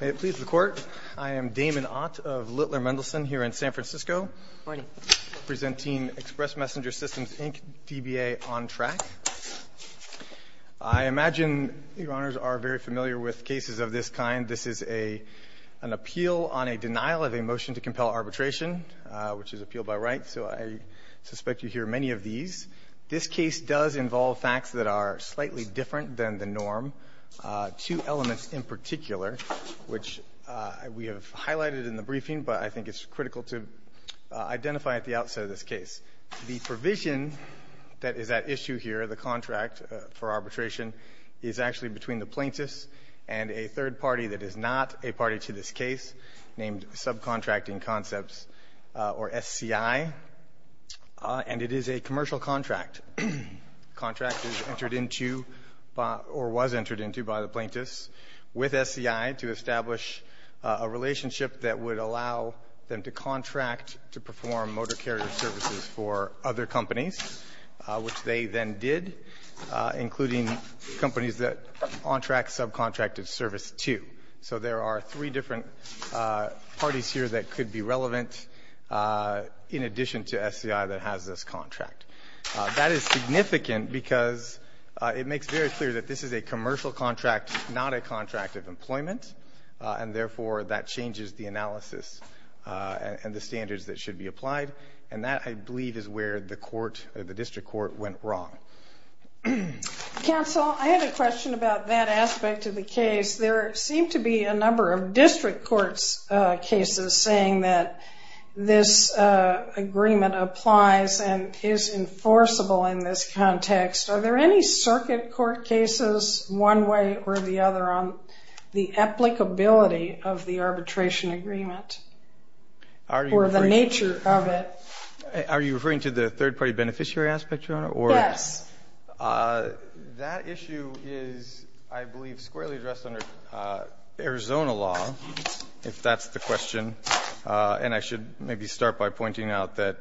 May it please the Court, I am Damon Ott of Littler Mendelsohn here in San Francisco. Presenting Express Messenger Systems, Inc., DBA on track. I imagine your honors are very familiar with cases of this kind. This is an appeal on a denial of a motion to compel arbitration, which is appeal by right. So I suspect you hear many of these. This case does involve facts that are slightly different than the norm. Two elements in particular, which we have highlighted in the briefing, but I think it's critical to identify at the outset of this case. The provision that is at issue here, the contract for arbitration, is actually between the plaintiffs and a third party that is not a party to this case, named Subcontracting Concepts, or SCI, and it is a commercial contract. Contract is entered into, or was entered into by the plaintiffs with SCI to establish a relationship that would allow them to contract to perform motor carrier services for other companies, which they then did, including companies that on track subcontracted service to. So there are three different parties here that could be relevant in addition to SCI that has this contract. That is significant because it makes very clear that this is a commercial contract, not a contract of employment, and therefore that changes the analysis and the standards that should be applied, and that, I believe, is where the court, the district court, went wrong. Counsel, I have a question about that aspect of the case. There seem to be a number of district court's cases saying that this agreement applies and is enforceable in this context. Are there any circuit court cases, one way or the other, on the applicability of the arbitration agreement, or the nature of it? Are you referring to the third party beneficiary aspect, Your Honor, or? Yes. That issue is, I believe, squarely addressed under Arizona law, if that's the question. And I should maybe start by pointing out that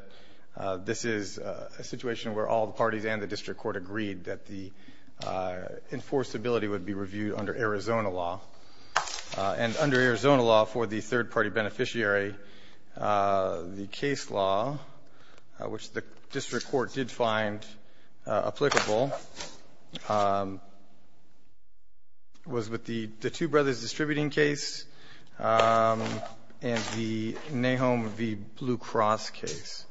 this is a situation where all the parties and the district court agreed that the enforceability would be reviewed under Arizona law. And under Arizona law, for the third party beneficiary, the case law, which the district court did find applicable, was with the Two Brothers Distributing case and the Nahum v. Blue Cross case,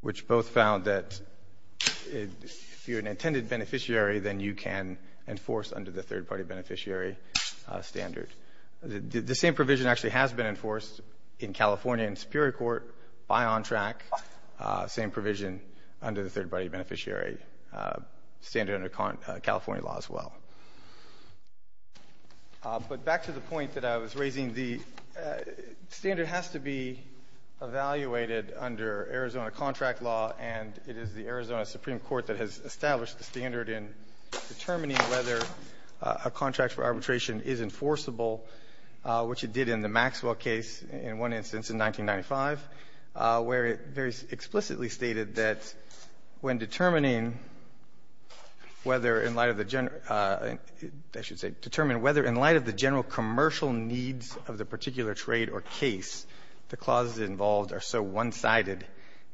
which both found that if you're an intended beneficiary, then you can enforce under the third party beneficiary standard. The same provision actually has been enforced in California and the third party beneficiary standard under California law, as well. But back to the point that I was raising, the standard has to be evaluated under Arizona contract law. And it is the Arizona Supreme Court that has established the standard in determining whether a contract for arbitration is enforceable, which it did in the Maxwell case, in one instance in 1995. Where it very explicitly stated that when determining whether in light of the general needs of the particular trade or case, the clauses involved are so one-sided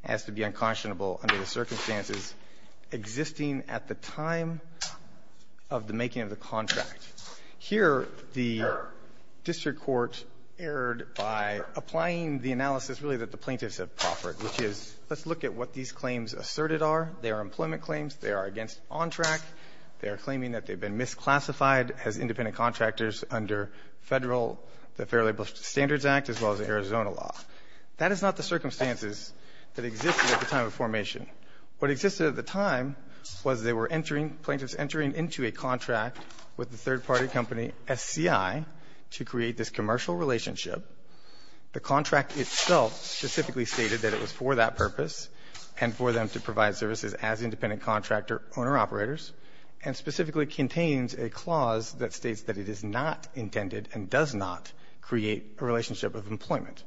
as to be unconscionable under the circumstances existing at the time of the making of the contract. Here, the district court erred by applying the analysis, really, that the plaintiffs have proffered, which is, let's look at what these claims asserted are. They are employment claims. They are against OnTrack. They are claiming that they've been misclassified as independent contractors under Federal, the Fair Labor Standards Act, as well as the Arizona law. That is not the circumstances that existed at the time of formation. What existed at the time was they were entering, plaintiffs entering into a contract with the third party company SCI to create this commercial relationship. The contract itself specifically stated that it was for that purpose and for them to provide services as independent contractor owner-operators, and specifically contains a clause that states that it is not intended and does not create a relationship of employment.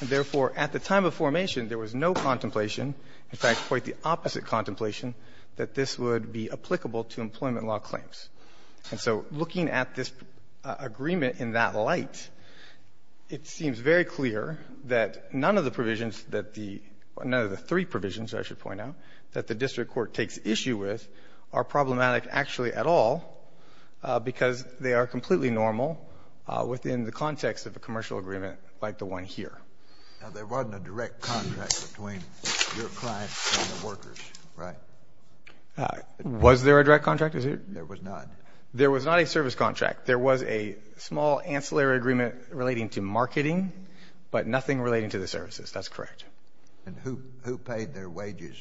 And therefore, at the time of formation, there was no contemplation, in fact, quite the opposite contemplation, that this would be applicable to employment law claims. And so looking at this agreement in that light, it seems very clear that none of the provisions that the — or none of the three provisions, I should point out, that the district court takes issue with are problematic, actually, at all, because they are completely normal within the context of a commercial agreement like the one here. Now, there wasn't a direct contract between your clients and the workers, right? Was there a direct contract? There was not. There was not a service contract. There was a small ancillary agreement relating to marketing, but nothing relating to the services. That's correct. And who paid their wages?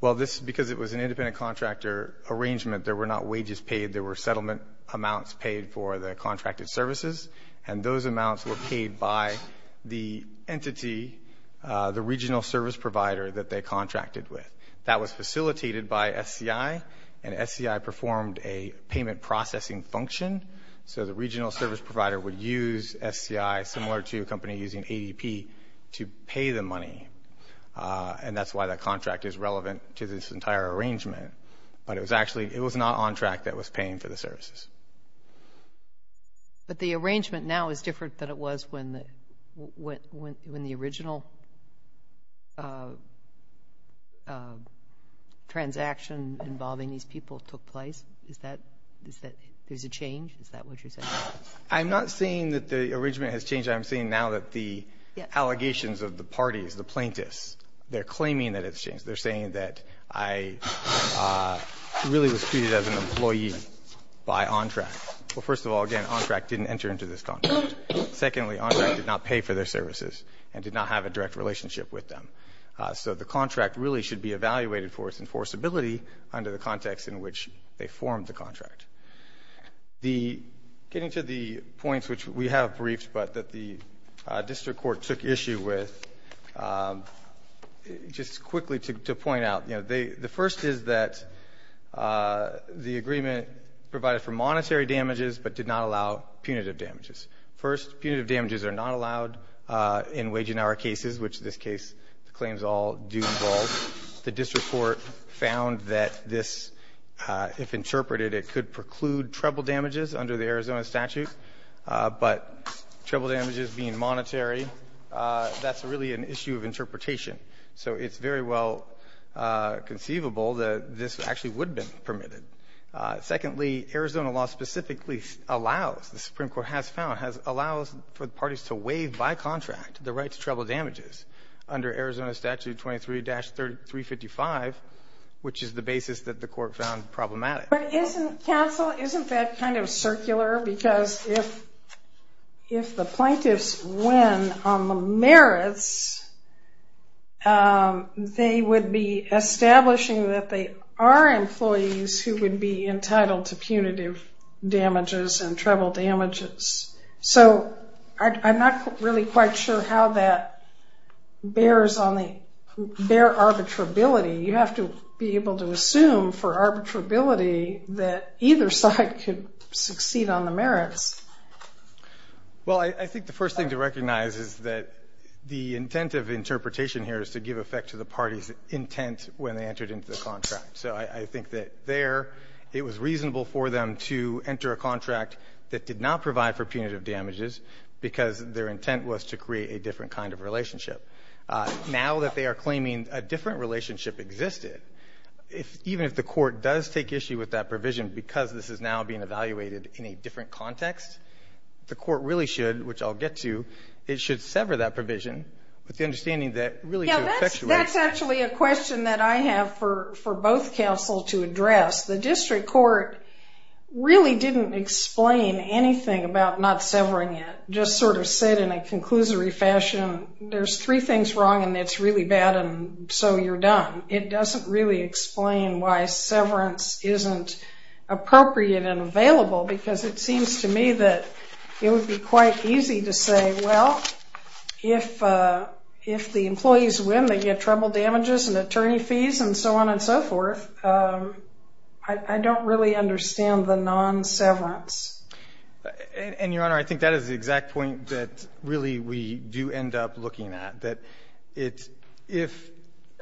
Well, this is because it was an independent contractor arrangement. There were not wages paid. There were settlement amounts paid for the contracted services, and those amounts were paid by the entity, the regional service provider that they contracted with. That was facilitated by SCI, and SCI performed a payment processing function, so the regional service provider would use SCI, similar to a company using ADP, to pay the money, and that's why that contract is relevant to this entire arrangement. But it was actually — it was not on track that it was paying for the services. But the arrangement now is different than it was when the original transaction involving these people took place? Is that — is that — there's a change? Is that what you're saying? I'm not saying that the arrangement has changed. I'm saying now that the allegations of the parties, the plaintiffs, they're claiming that it's changed. They're saying that I really was treated as an employee by OnTrack. Well, first of all, again, OnTrack didn't enter into this contract. Secondly, OnTrack did not pay for their services and did not have a direct relationship with them. So the contract really should be evaluated for its enforceability under the context in which they formed the contract. The — getting to the points which we have briefed but that the district court took issue with, just quickly to point out, you know, the first is that the agreement provided for monetary damages but did not allow punitive damages. First, punitive damages are not allowed in wage and hour cases, which in this case the claims all do involve. The district court found that this — if interpreted, it could preclude treble damages under the Arizona statute. But treble damages being monetary, that's really an issue of interpretation. So it's very well conceivable that this actually would have been permitted. Secondly, Arizona law specifically allows, the Supreme Court has found, allows for the parties to waive by contract the right to treble damages under Arizona statute 23-355, which is the basis that the court found problematic. But isn't — counsel, isn't that kind of circular? Because if the plaintiffs win on the merits, they would be establishing that they are employees who would be entitled to punitive damages and treble damages. So I'm not really quite sure how that bears on the — bear arbitrability. You have to be able to assume for arbitrability that either side could succeed on the merits. Well, I think the first thing to recognize is that the intent of interpretation here is to give effect to the party's intent when they entered into the contract. So I think that there it was reasonable for them to enter a contract that did not provide for punitive damages because their intent was to create a different kind of relationship. Now that they are claiming a different relationship existed, if — even if the court does take issue with that provision because this is now being evaluated in a different context, the court really should, which I'll get to, it should sever that provision with the understanding that really to effectuate — Yeah, that's actually a question that I have for both counsel to address. The district court really didn't explain anything about not severing it, just sort of said in a conclusory fashion, there's three things wrong and it's really bad and so you're done. It doesn't really explain why severance isn't appropriate and available because it seems to me that it would be quite easy to say, well, if the employees win, they get trouble damages and attorney fees and so on and so forth. I don't really understand the non-severance. And, Your Honor, I think that is the exact point that really we do end up looking at, that it's — if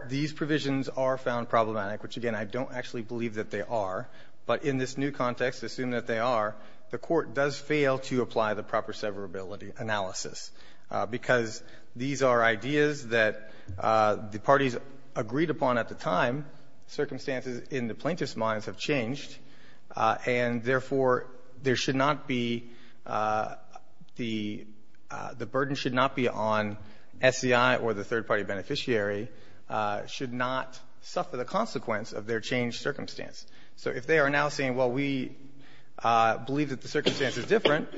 these provisions are found problematic, which, again, I don't actually believe that they are, but in this new context, assume that they are, the court does fail to apply the proper severability analysis because these are ideas that the parties agreed upon at the time, circumstances in the plaintiff's clients have changed, and, therefore, there should not be — the burden should not be on SEI or the third-party beneficiary, should not suffer the consequence of their changed circumstance. So if they are now saying, well, we believe that the circumstance is different,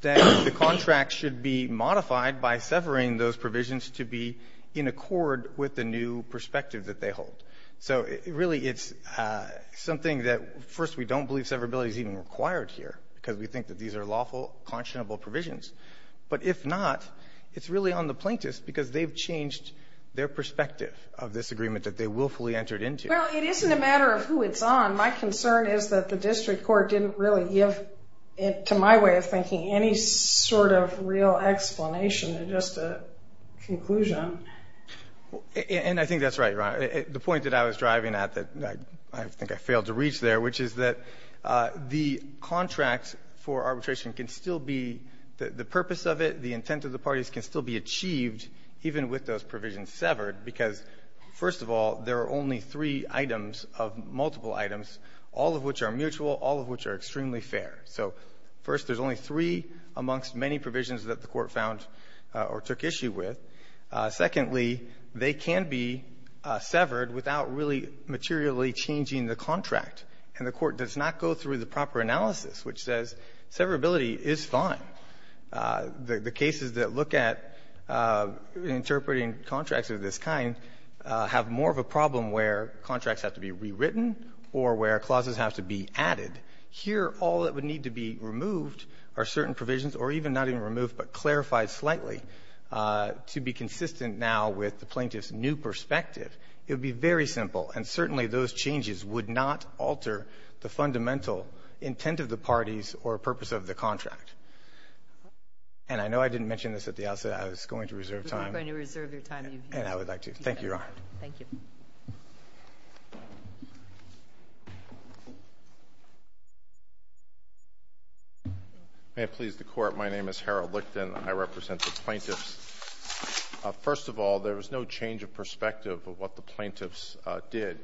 then the contract should be modified by severing those provisions to be in accord with the new perspective that they hold. So, really, it's something that, first, we don't believe severability is even required here because we think that these are lawful, conscionable provisions. But if not, it's really on the plaintiffs because they've changed their perspective of this agreement that they willfully entered into. Well, it isn't a matter of who it's on. My concern is that the district court didn't really give, to my way of thinking, any sort of real explanation, just a conclusion. And I think that's right, Your Honor. The point that I was driving at that I think I failed to reach there, which is that the contract for arbitration can still be — the purpose of it, the intent of the parties can still be achieved even with those provisions severed because, first of all, there are only three items of multiple items, all of which are mutual, all of which are extremely fair. So, first, there's only three amongst many provisions that the Court found or took issue with. Secondly, they can be severed without really materially changing the contract. And the Court does not go through the proper analysis, which says severability is fine. The cases that look at interpreting contracts of this kind have more of a problem where contracts have to be rewritten or where clauses have to be added. Here, all that would need to be removed are certain provisions, or even not even to be consistent now with the plaintiff's new perspective. It would be very simple, and certainly those changes would not alter the fundamental intent of the parties or purpose of the contract. And I know I didn't mention this at the outset. I was going to reserve time. You were going to reserve your time. And I would like to. Thank you, Your Honor. Thank you. May it please the Court. My name is Harold Licton. I represent the plaintiffs. First of all, there was no change of perspective of what the plaintiffs did.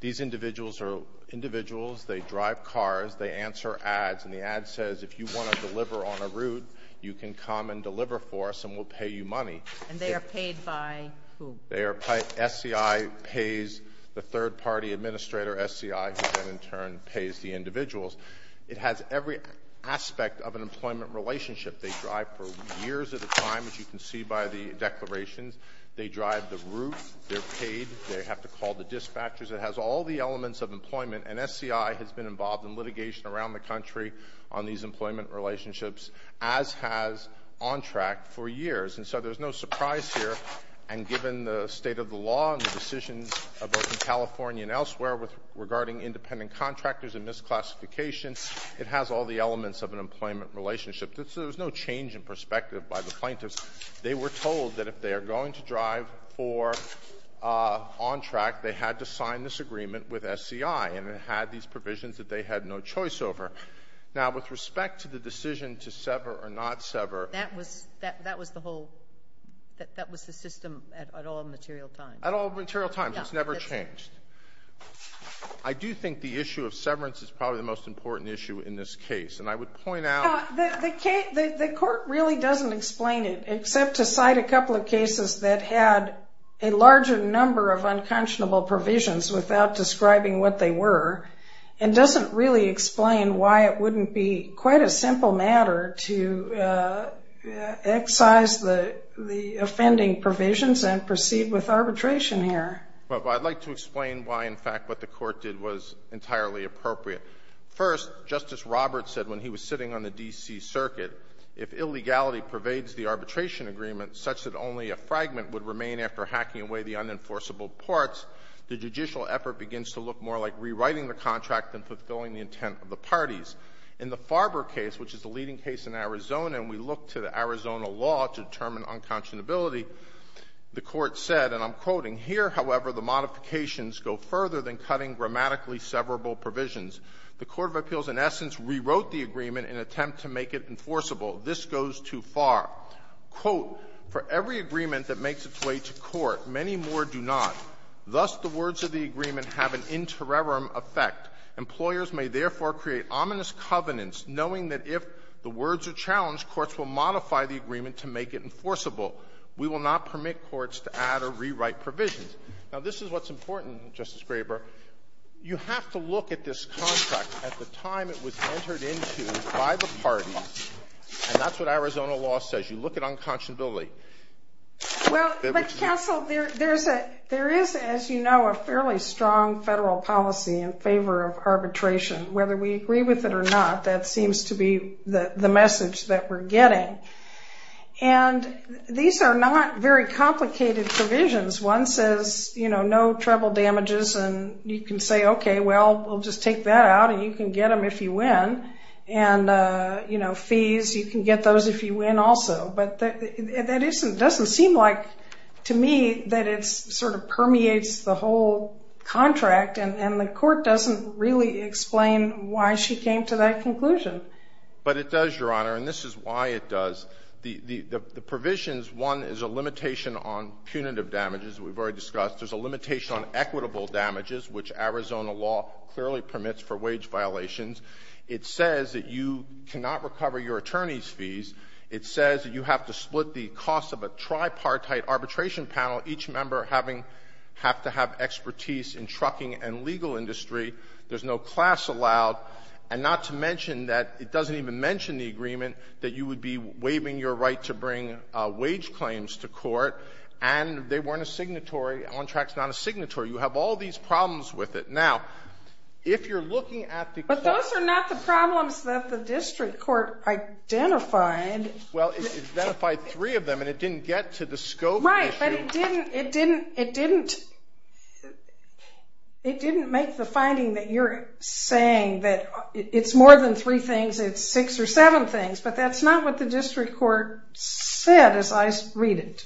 These individuals are individuals. They drive cars. They answer ads. And the ad says, if you want to deliver on a route, you can come and deliver for us and we'll pay you money. And they are paid by who? They are paid by SCI pays the third-party administrator, SCI, who then, in turn, pays the individuals. It has every aspect of an employment relationship. They drive for years at a time, as you can see by the declarations. They drive the route. They're paid. They have to call the dispatchers. It has all the elements of employment. And SCI has been involved in litigation around the country on these employment relationships, as has OnTrack for years. And so there's no surprise here. And given the state of the law and the decisions both in California and It has all the elements of an employment relationship. So there's no change in perspective by the plaintiffs. They were told that if they are going to drive for OnTrack, they had to sign this agreement with SCI. And it had these provisions that they had no choice over. Now, with respect to the decision to sever or not sever. That was the whole ‑‑ that was the system at all material times. At all material times. It's never changed. I do think the issue of severance is probably the most important issue in this case. And I would point out. The court really doesn't explain it, except to cite a couple of cases that had a larger number of unconscionable provisions without describing what they were. And doesn't really explain why it wouldn't be quite a simple matter to excise the offending provisions and proceed with arbitration here. Well, I'd like to explain why, in fact, what the court did was entirely appropriate. First, Justice Roberts said when he was sitting on the D.C. Circuit, if illegality pervades the arbitration agreement such that only a fragment would remain after hacking away the unenforceable parts, the judicial effort begins to look more like rewriting the contract than fulfilling the intent of the parties. In the Farber case, which is the leading case in Arizona, and we look to the Arizona law to determine unconscionability, the court said, and I'm go further than cutting grammatically severable provisions. The court of appeals, in essence, rewrote the agreement in an attempt to make it enforceable. This goes too far. Quote, for every agreement that makes its way to court, many more do not. Thus, the words of the agreement have an interim effect. Employers may, therefore, create ominous covenants, knowing that if the words are challenged, courts will modify the agreement to make it enforceable. We will not permit courts to add or rewrite provisions. Now, this is what's important, Justice Graber. You have to look at this contract at the time it was entered into by the parties, and that's what Arizona law says. You look at unconscionability. Well, but, counsel, there is, as you know, a fairly strong federal policy in favor of arbitration. Whether we agree with it or not, that seems to be the message that we're getting. And these are not very complicated provisions. One says, you know, no treble damages, and you can say, okay, well, we'll just take that out, and you can get them if you win. And, you know, fees, you can get those if you win also. But that doesn't seem like, to me, that it sort of permeates the whole contract, and the Court doesn't really explain why she came to that conclusion. But it does, Your Honor, and this is why it does. The provisions, one, is a limitation on punitive damages. We've already discussed. There's a limitation on equitable damages, which Arizona law clearly permits for wage violations. It says that you cannot recover your attorney's fees. It says that you have to split the cost of a tripartite arbitration panel, each member having to have expertise in trucking and legal industry. There's no class allowed. And not to mention that it doesn't even mention the agreement that you would be receiving your right to bring wage claims to court. And they weren't a signatory. A contract's not a signatory. You have all these problems with it. Now, if you're looking at the cost. But those are not the problems that the district court identified. Well, it identified three of them, and it didn't get to the scope issue. Right, but it didn't make the finding that you're saying that it's more than three things, it's six or seven things. But that's not what the district court said as I read it.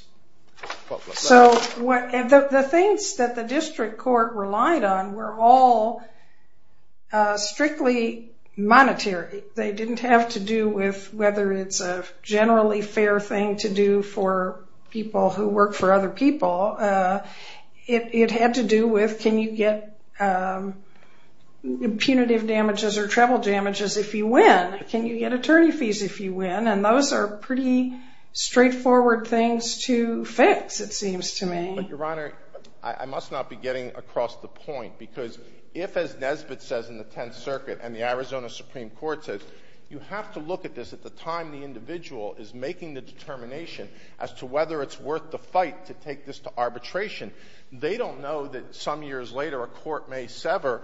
So the things that the district court relied on were all strictly monetary. They didn't have to do with whether it's a generally fair thing to do for people who work for other people. It had to do with can you get punitive damages or travel damages if you win? Can you get attorney fees if you win? And those are pretty straightforward things to fix, it seems to me. But, Your Honor, I must not be getting across the point. Because if, as Nesbitt says in the Tenth Circuit and the Arizona Supreme Court says, you have to look at this at the time the individual is making the determination as to whether it's worth the fight to take this to arbitration, they don't know that some years later a court may sever.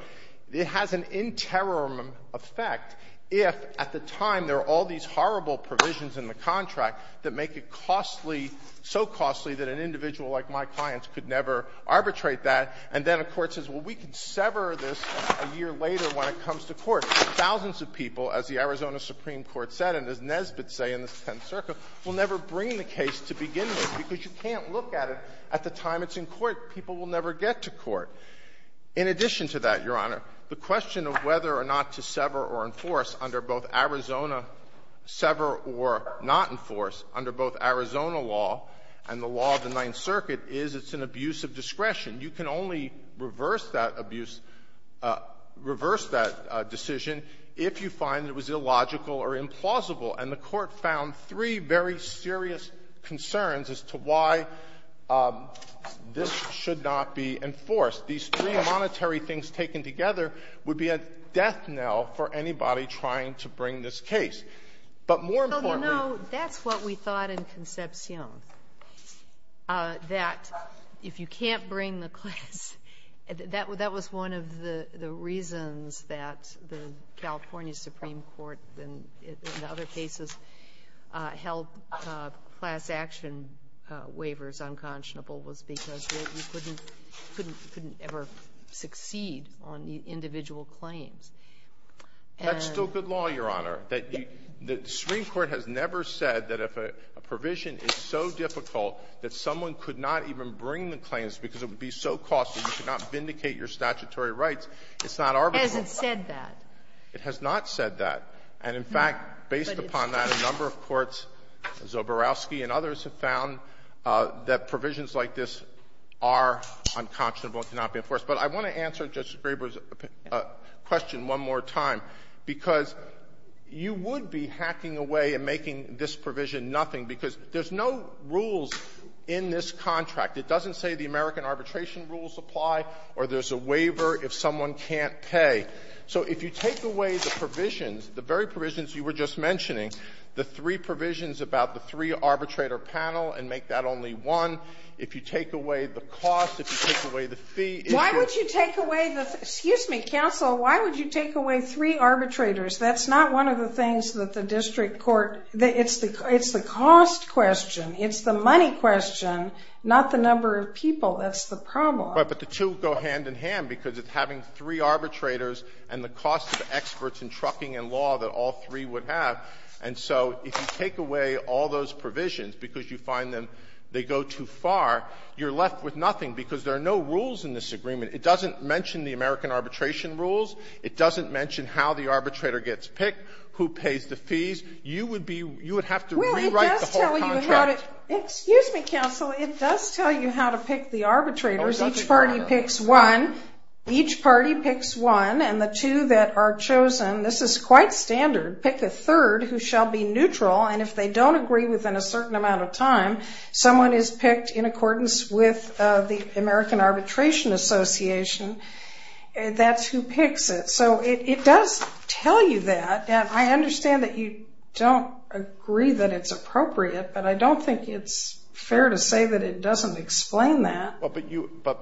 It has an interim effect if at the time there are all these horrible provisions in the contract that make it costly, so costly that an individual like my client could never arbitrate that, and then a court says, well, we can sever this a year later when it comes to court. Thousands of people, as the Arizona Supreme Court said and as Nesbitt said in the Tenth Circuit, will never bring the case to begin with because you can't look at it at the time it's in court. People will never get to court. In addition to that, Your Honor, the question of whether or not to sever or enforce under both Arizona — sever or not enforce under both Arizona law and the law of the Ninth Circuit is it's an abuse of discretion. You can only reverse that abuse — reverse that decision if you find it was illogical or implausible. And the Court found three very serious concerns as to why this should not be enforced. These three monetary things taken together would be a death knell for anybody trying to bring this case. But more importantly — Well, you know, that's what we thought in Concepción, that if you can't bring the class — that was one of the reasons that the California Supreme Court in other cases held class action waivers unconscionable was because you couldn't ever succeed on individual claims. And — That's still good law, Your Honor. The Supreme Court has never said that if a provision is so difficult that someone could not even bring the claims because it would be so costly, you should not vindicate your statutory rights. It's not arbitrary. Has it said that? It has not said that. And in fact, based upon that, a number of courts, Zoborowski and others, have found that provisions like this are unconscionable and cannot be enforced. But I want to answer Justice Graber's question one more time, because you would be hacking away and making this provision nothing because there's no rules in this contract. It doesn't say the American arbitration rules apply or there's a waiver if someone can't pay. So if you take away the provisions, the very provisions you were just mentioning, the three provisions about the three-arbitrator panel and make that only one, if you take away the cost, if you take away the fee, if you're — Why would you take away the — excuse me, counsel. Why would you take away three arbitrators? That's not one of the things that the district court — it's the cost question. It's the money question, not the number of people. That's the problem. But the two go hand in hand because it's having three arbitrators and the cost of experts in trucking and law that all three would have. And so if you take away all those provisions because you find them — they go too far, you're left with nothing because there are no rules in this agreement. It doesn't mention the American arbitration rules. It doesn't mention how the arbitrator gets picked, who pays the fees. You would be — you would have to rewrite the whole contract. Well, it does tell you how to — excuse me, counsel. It does tell you how to pick the arbitrators. Each party picks one. Each party picks one. And the two that are chosen — this is quite standard — pick a third who shall be neutral. And if they don't agree within a certain amount of time, someone is picked in accordance with the American Arbitration Association. That's who picks it. So it does tell you that. I understand that you don't agree that it's appropriate, but I don't think it's fair to say that it doesn't explain that. Well, but you — but,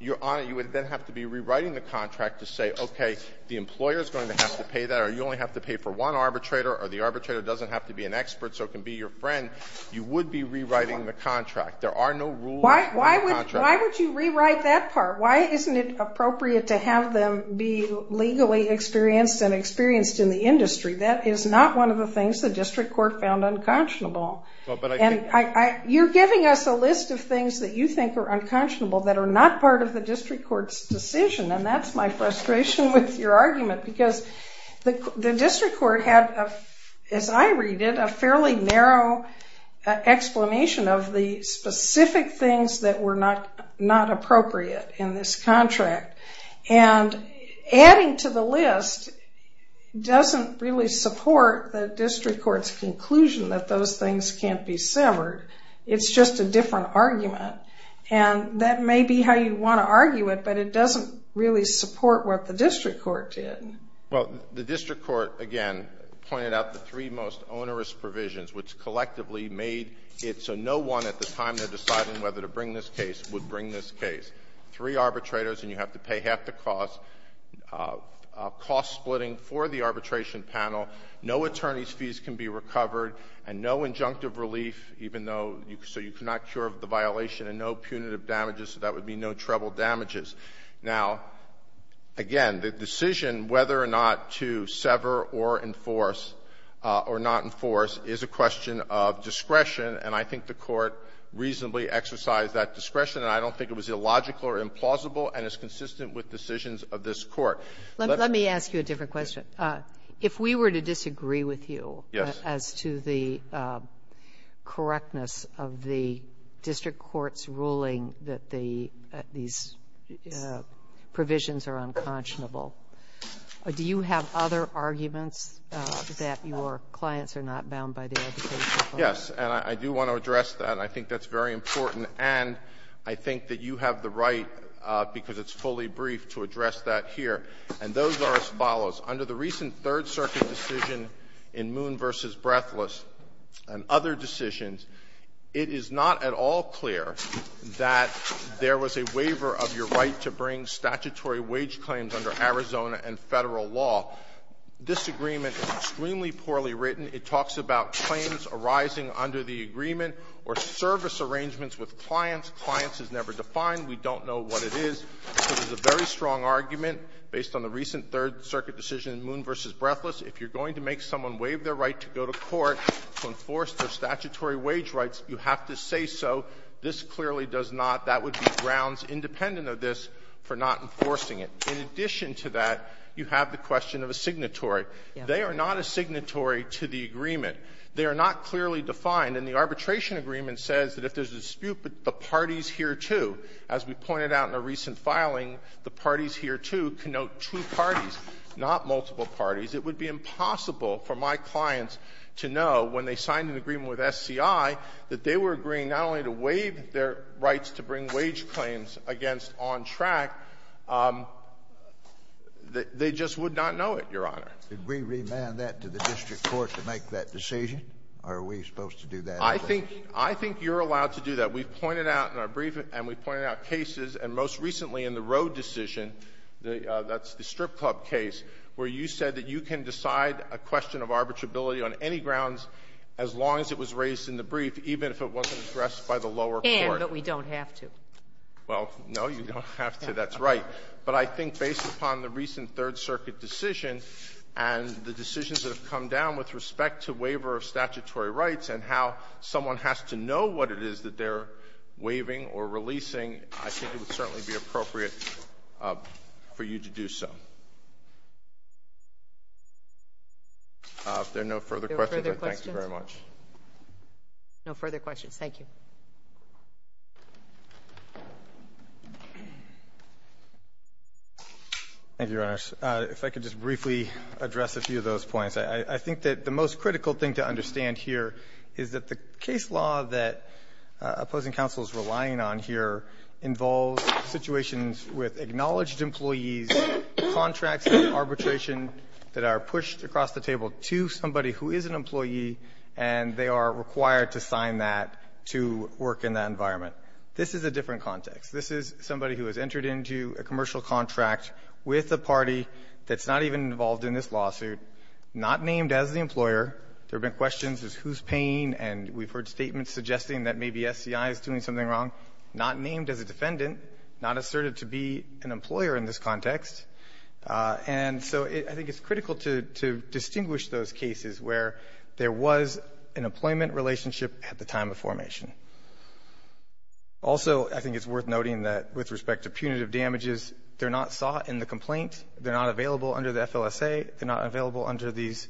Your Honor, you would then have to be rewriting the contract to say, okay, the employer is going to have to pay that, or you only have to pay for one arbitrator, or the arbitrator doesn't have to be an expert so it can be your friend. You would be rewriting the contract. There are no rules in the contract. Why would you rewrite that part? Why isn't it appropriate to have them be legally experienced and experienced in the industry? That is not one of the things the district court found unconscionable. And you're giving us a list of things that you think are unconscionable that are not part of the district court's decision, and that's my frustration with your argument because the district court had, as I read it, a fairly narrow explanation of the specific things that were not appropriate in this contract. And adding to the list doesn't really support the district court's conclusion that those things can't be severed. It's just a different argument. And that may be how you want to argue it, but it doesn't really support what the district court did. Well, the district court, again, pointed out the three most onerous provisions, which collectively made it so no one at the time they're deciding whether to bring this case would bring this case. Three arbitrators, and you have to pay half the cost, cost splitting for the And no injunctive relief, even though so you cannot cure the violation. And no punitive damages, so that would be no treble damages. Now, again, the decision whether or not to sever or enforce or not enforce is a question of discretion, and I think the Court reasonably exercised that discretion. And I don't think it was illogical or implausible and is consistent with decisions of this Court. Let me ask you a different question. If we were to disagree with you as to the correctness of the district court's ruling that the these provisions are unconscionable, do you have other arguments that your clients are not bound by the educational policy? Yes. And I do want to address that, and I think that's very important. And I think that you have the right, because it's fully brief, to address that here. And those are as follows. Under the recent Third Circuit decision in Moon v. Breathless and other decisions, it is not at all clear that there was a waiver of your right to bring statutory wage claims under Arizona and Federal law. This agreement is extremely poorly written. It talks about claims arising under the agreement or service arrangements with clients. Clients is never defined. We don't know what it is. So there's a very strong argument based on the recent Third Circuit decision in Moon v. Breathless. If you're going to make someone waive their right to go to court to enforce their statutory wage rights, you have to say so. This clearly does not. That would be grounds independent of this for not enforcing it. In addition to that, you have the question of a signatory. They are not a signatory to the agreement. They are not clearly defined. And the arbitration agreement says that if there's a dispute, the party's here, too. But as we pointed out in a recent filing, the parties here, too, connote two parties, not multiple parties. It would be impossible for my clients to know when they signed an agreement with SCI that they were agreeing not only to waive their rights to bring wage claims against on track, they just would not know it, Your Honor. Did we remand that to the district court to make that decision, or are we supposed to do that? I think you're allowed to do that. We've pointed out in our brief, and we've pointed out cases, and most recently in the Road decision, that's the strip club case, where you said that you can decide a question of arbitrability on any grounds as long as it was raised in the brief, even if it wasn't addressed by the lower court. And that we don't have to. Well, no, you don't have to. That's right. But I think based upon the recent Third Circuit decision and the decisions that have come down with respect to waiver of statutory rights and how someone has to know what it is that they're waiving or releasing, I think it would certainly be appropriate for you to do so. If there are no further questions, I thank you very much. No further questions. Thank you. Thank you, Your Honors. If I could just briefly address a few of those points. I think that the most critical thing to understand here is that the case law that opposing counsel is relying on here involves situations with acknowledged employees, contracts and arbitration that are pushed across the table to somebody who is an employee, and they are required to sign that to work in that environment. This is a different context. This is somebody who has entered into a commercial contract with a party that's not even involved in this lawsuit, not named as the employer. There have been questions as to who's paying, and we've heard statements suggesting that maybe SCI is doing something wrong, not named as a defendant, not asserted to be an employer in this context. And so I think it's critical to distinguish those cases where there was an employment relationship at the time of formation. Also, I think it's worth noting that with respect to punitive damages, they're not sought in the complaint. They're not available under the FLSA. They're not available under these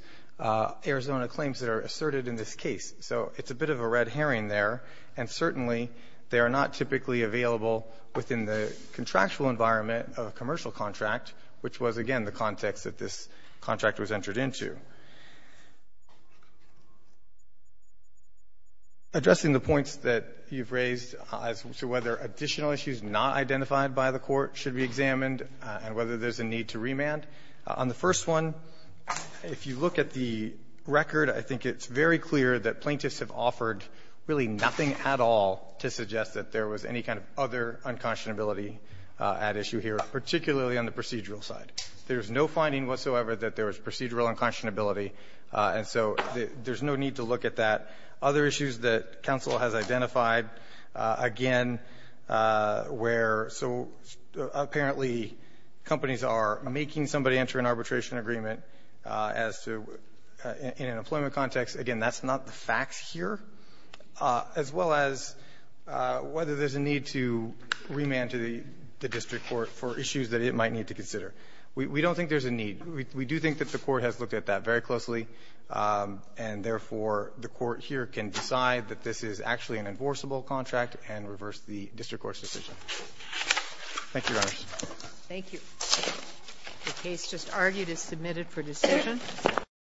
Arizona claims that are asserted in this case. So it's a bit of a red herring there. And certainly, they are not typically available within the contractual environment of a commercial contract, which was, again, the context that this contract was entered into. Addressing the points that you've raised as to whether additional issues not identified by the Court should be examined and whether there's a need to remand, on the first one, if you look at the record, I think it's very clear that plaintiffs have offered really nothing at all to suggest that there was any kind of other unconscionability at issue here, particularly on the procedural side. There's no finding whatsoever that there was procedural unconscionability, and so there's no need to look at that. Other issues that counsel has identified, again, where so apparently companies are making somebody enter an arbitration agreement as to, in an employment context, again, that's not the facts here, as well as whether there's a need to remand to the district court for issues that it might need to consider. We don't think there's a need. We do think that the Court has looked at that very closely, and therefore, the Court here can decide that this is actually an enforceable contract and reverse the district court's decision. Thank you, Your Honors. Thank you. The case just argued is submitted for decision.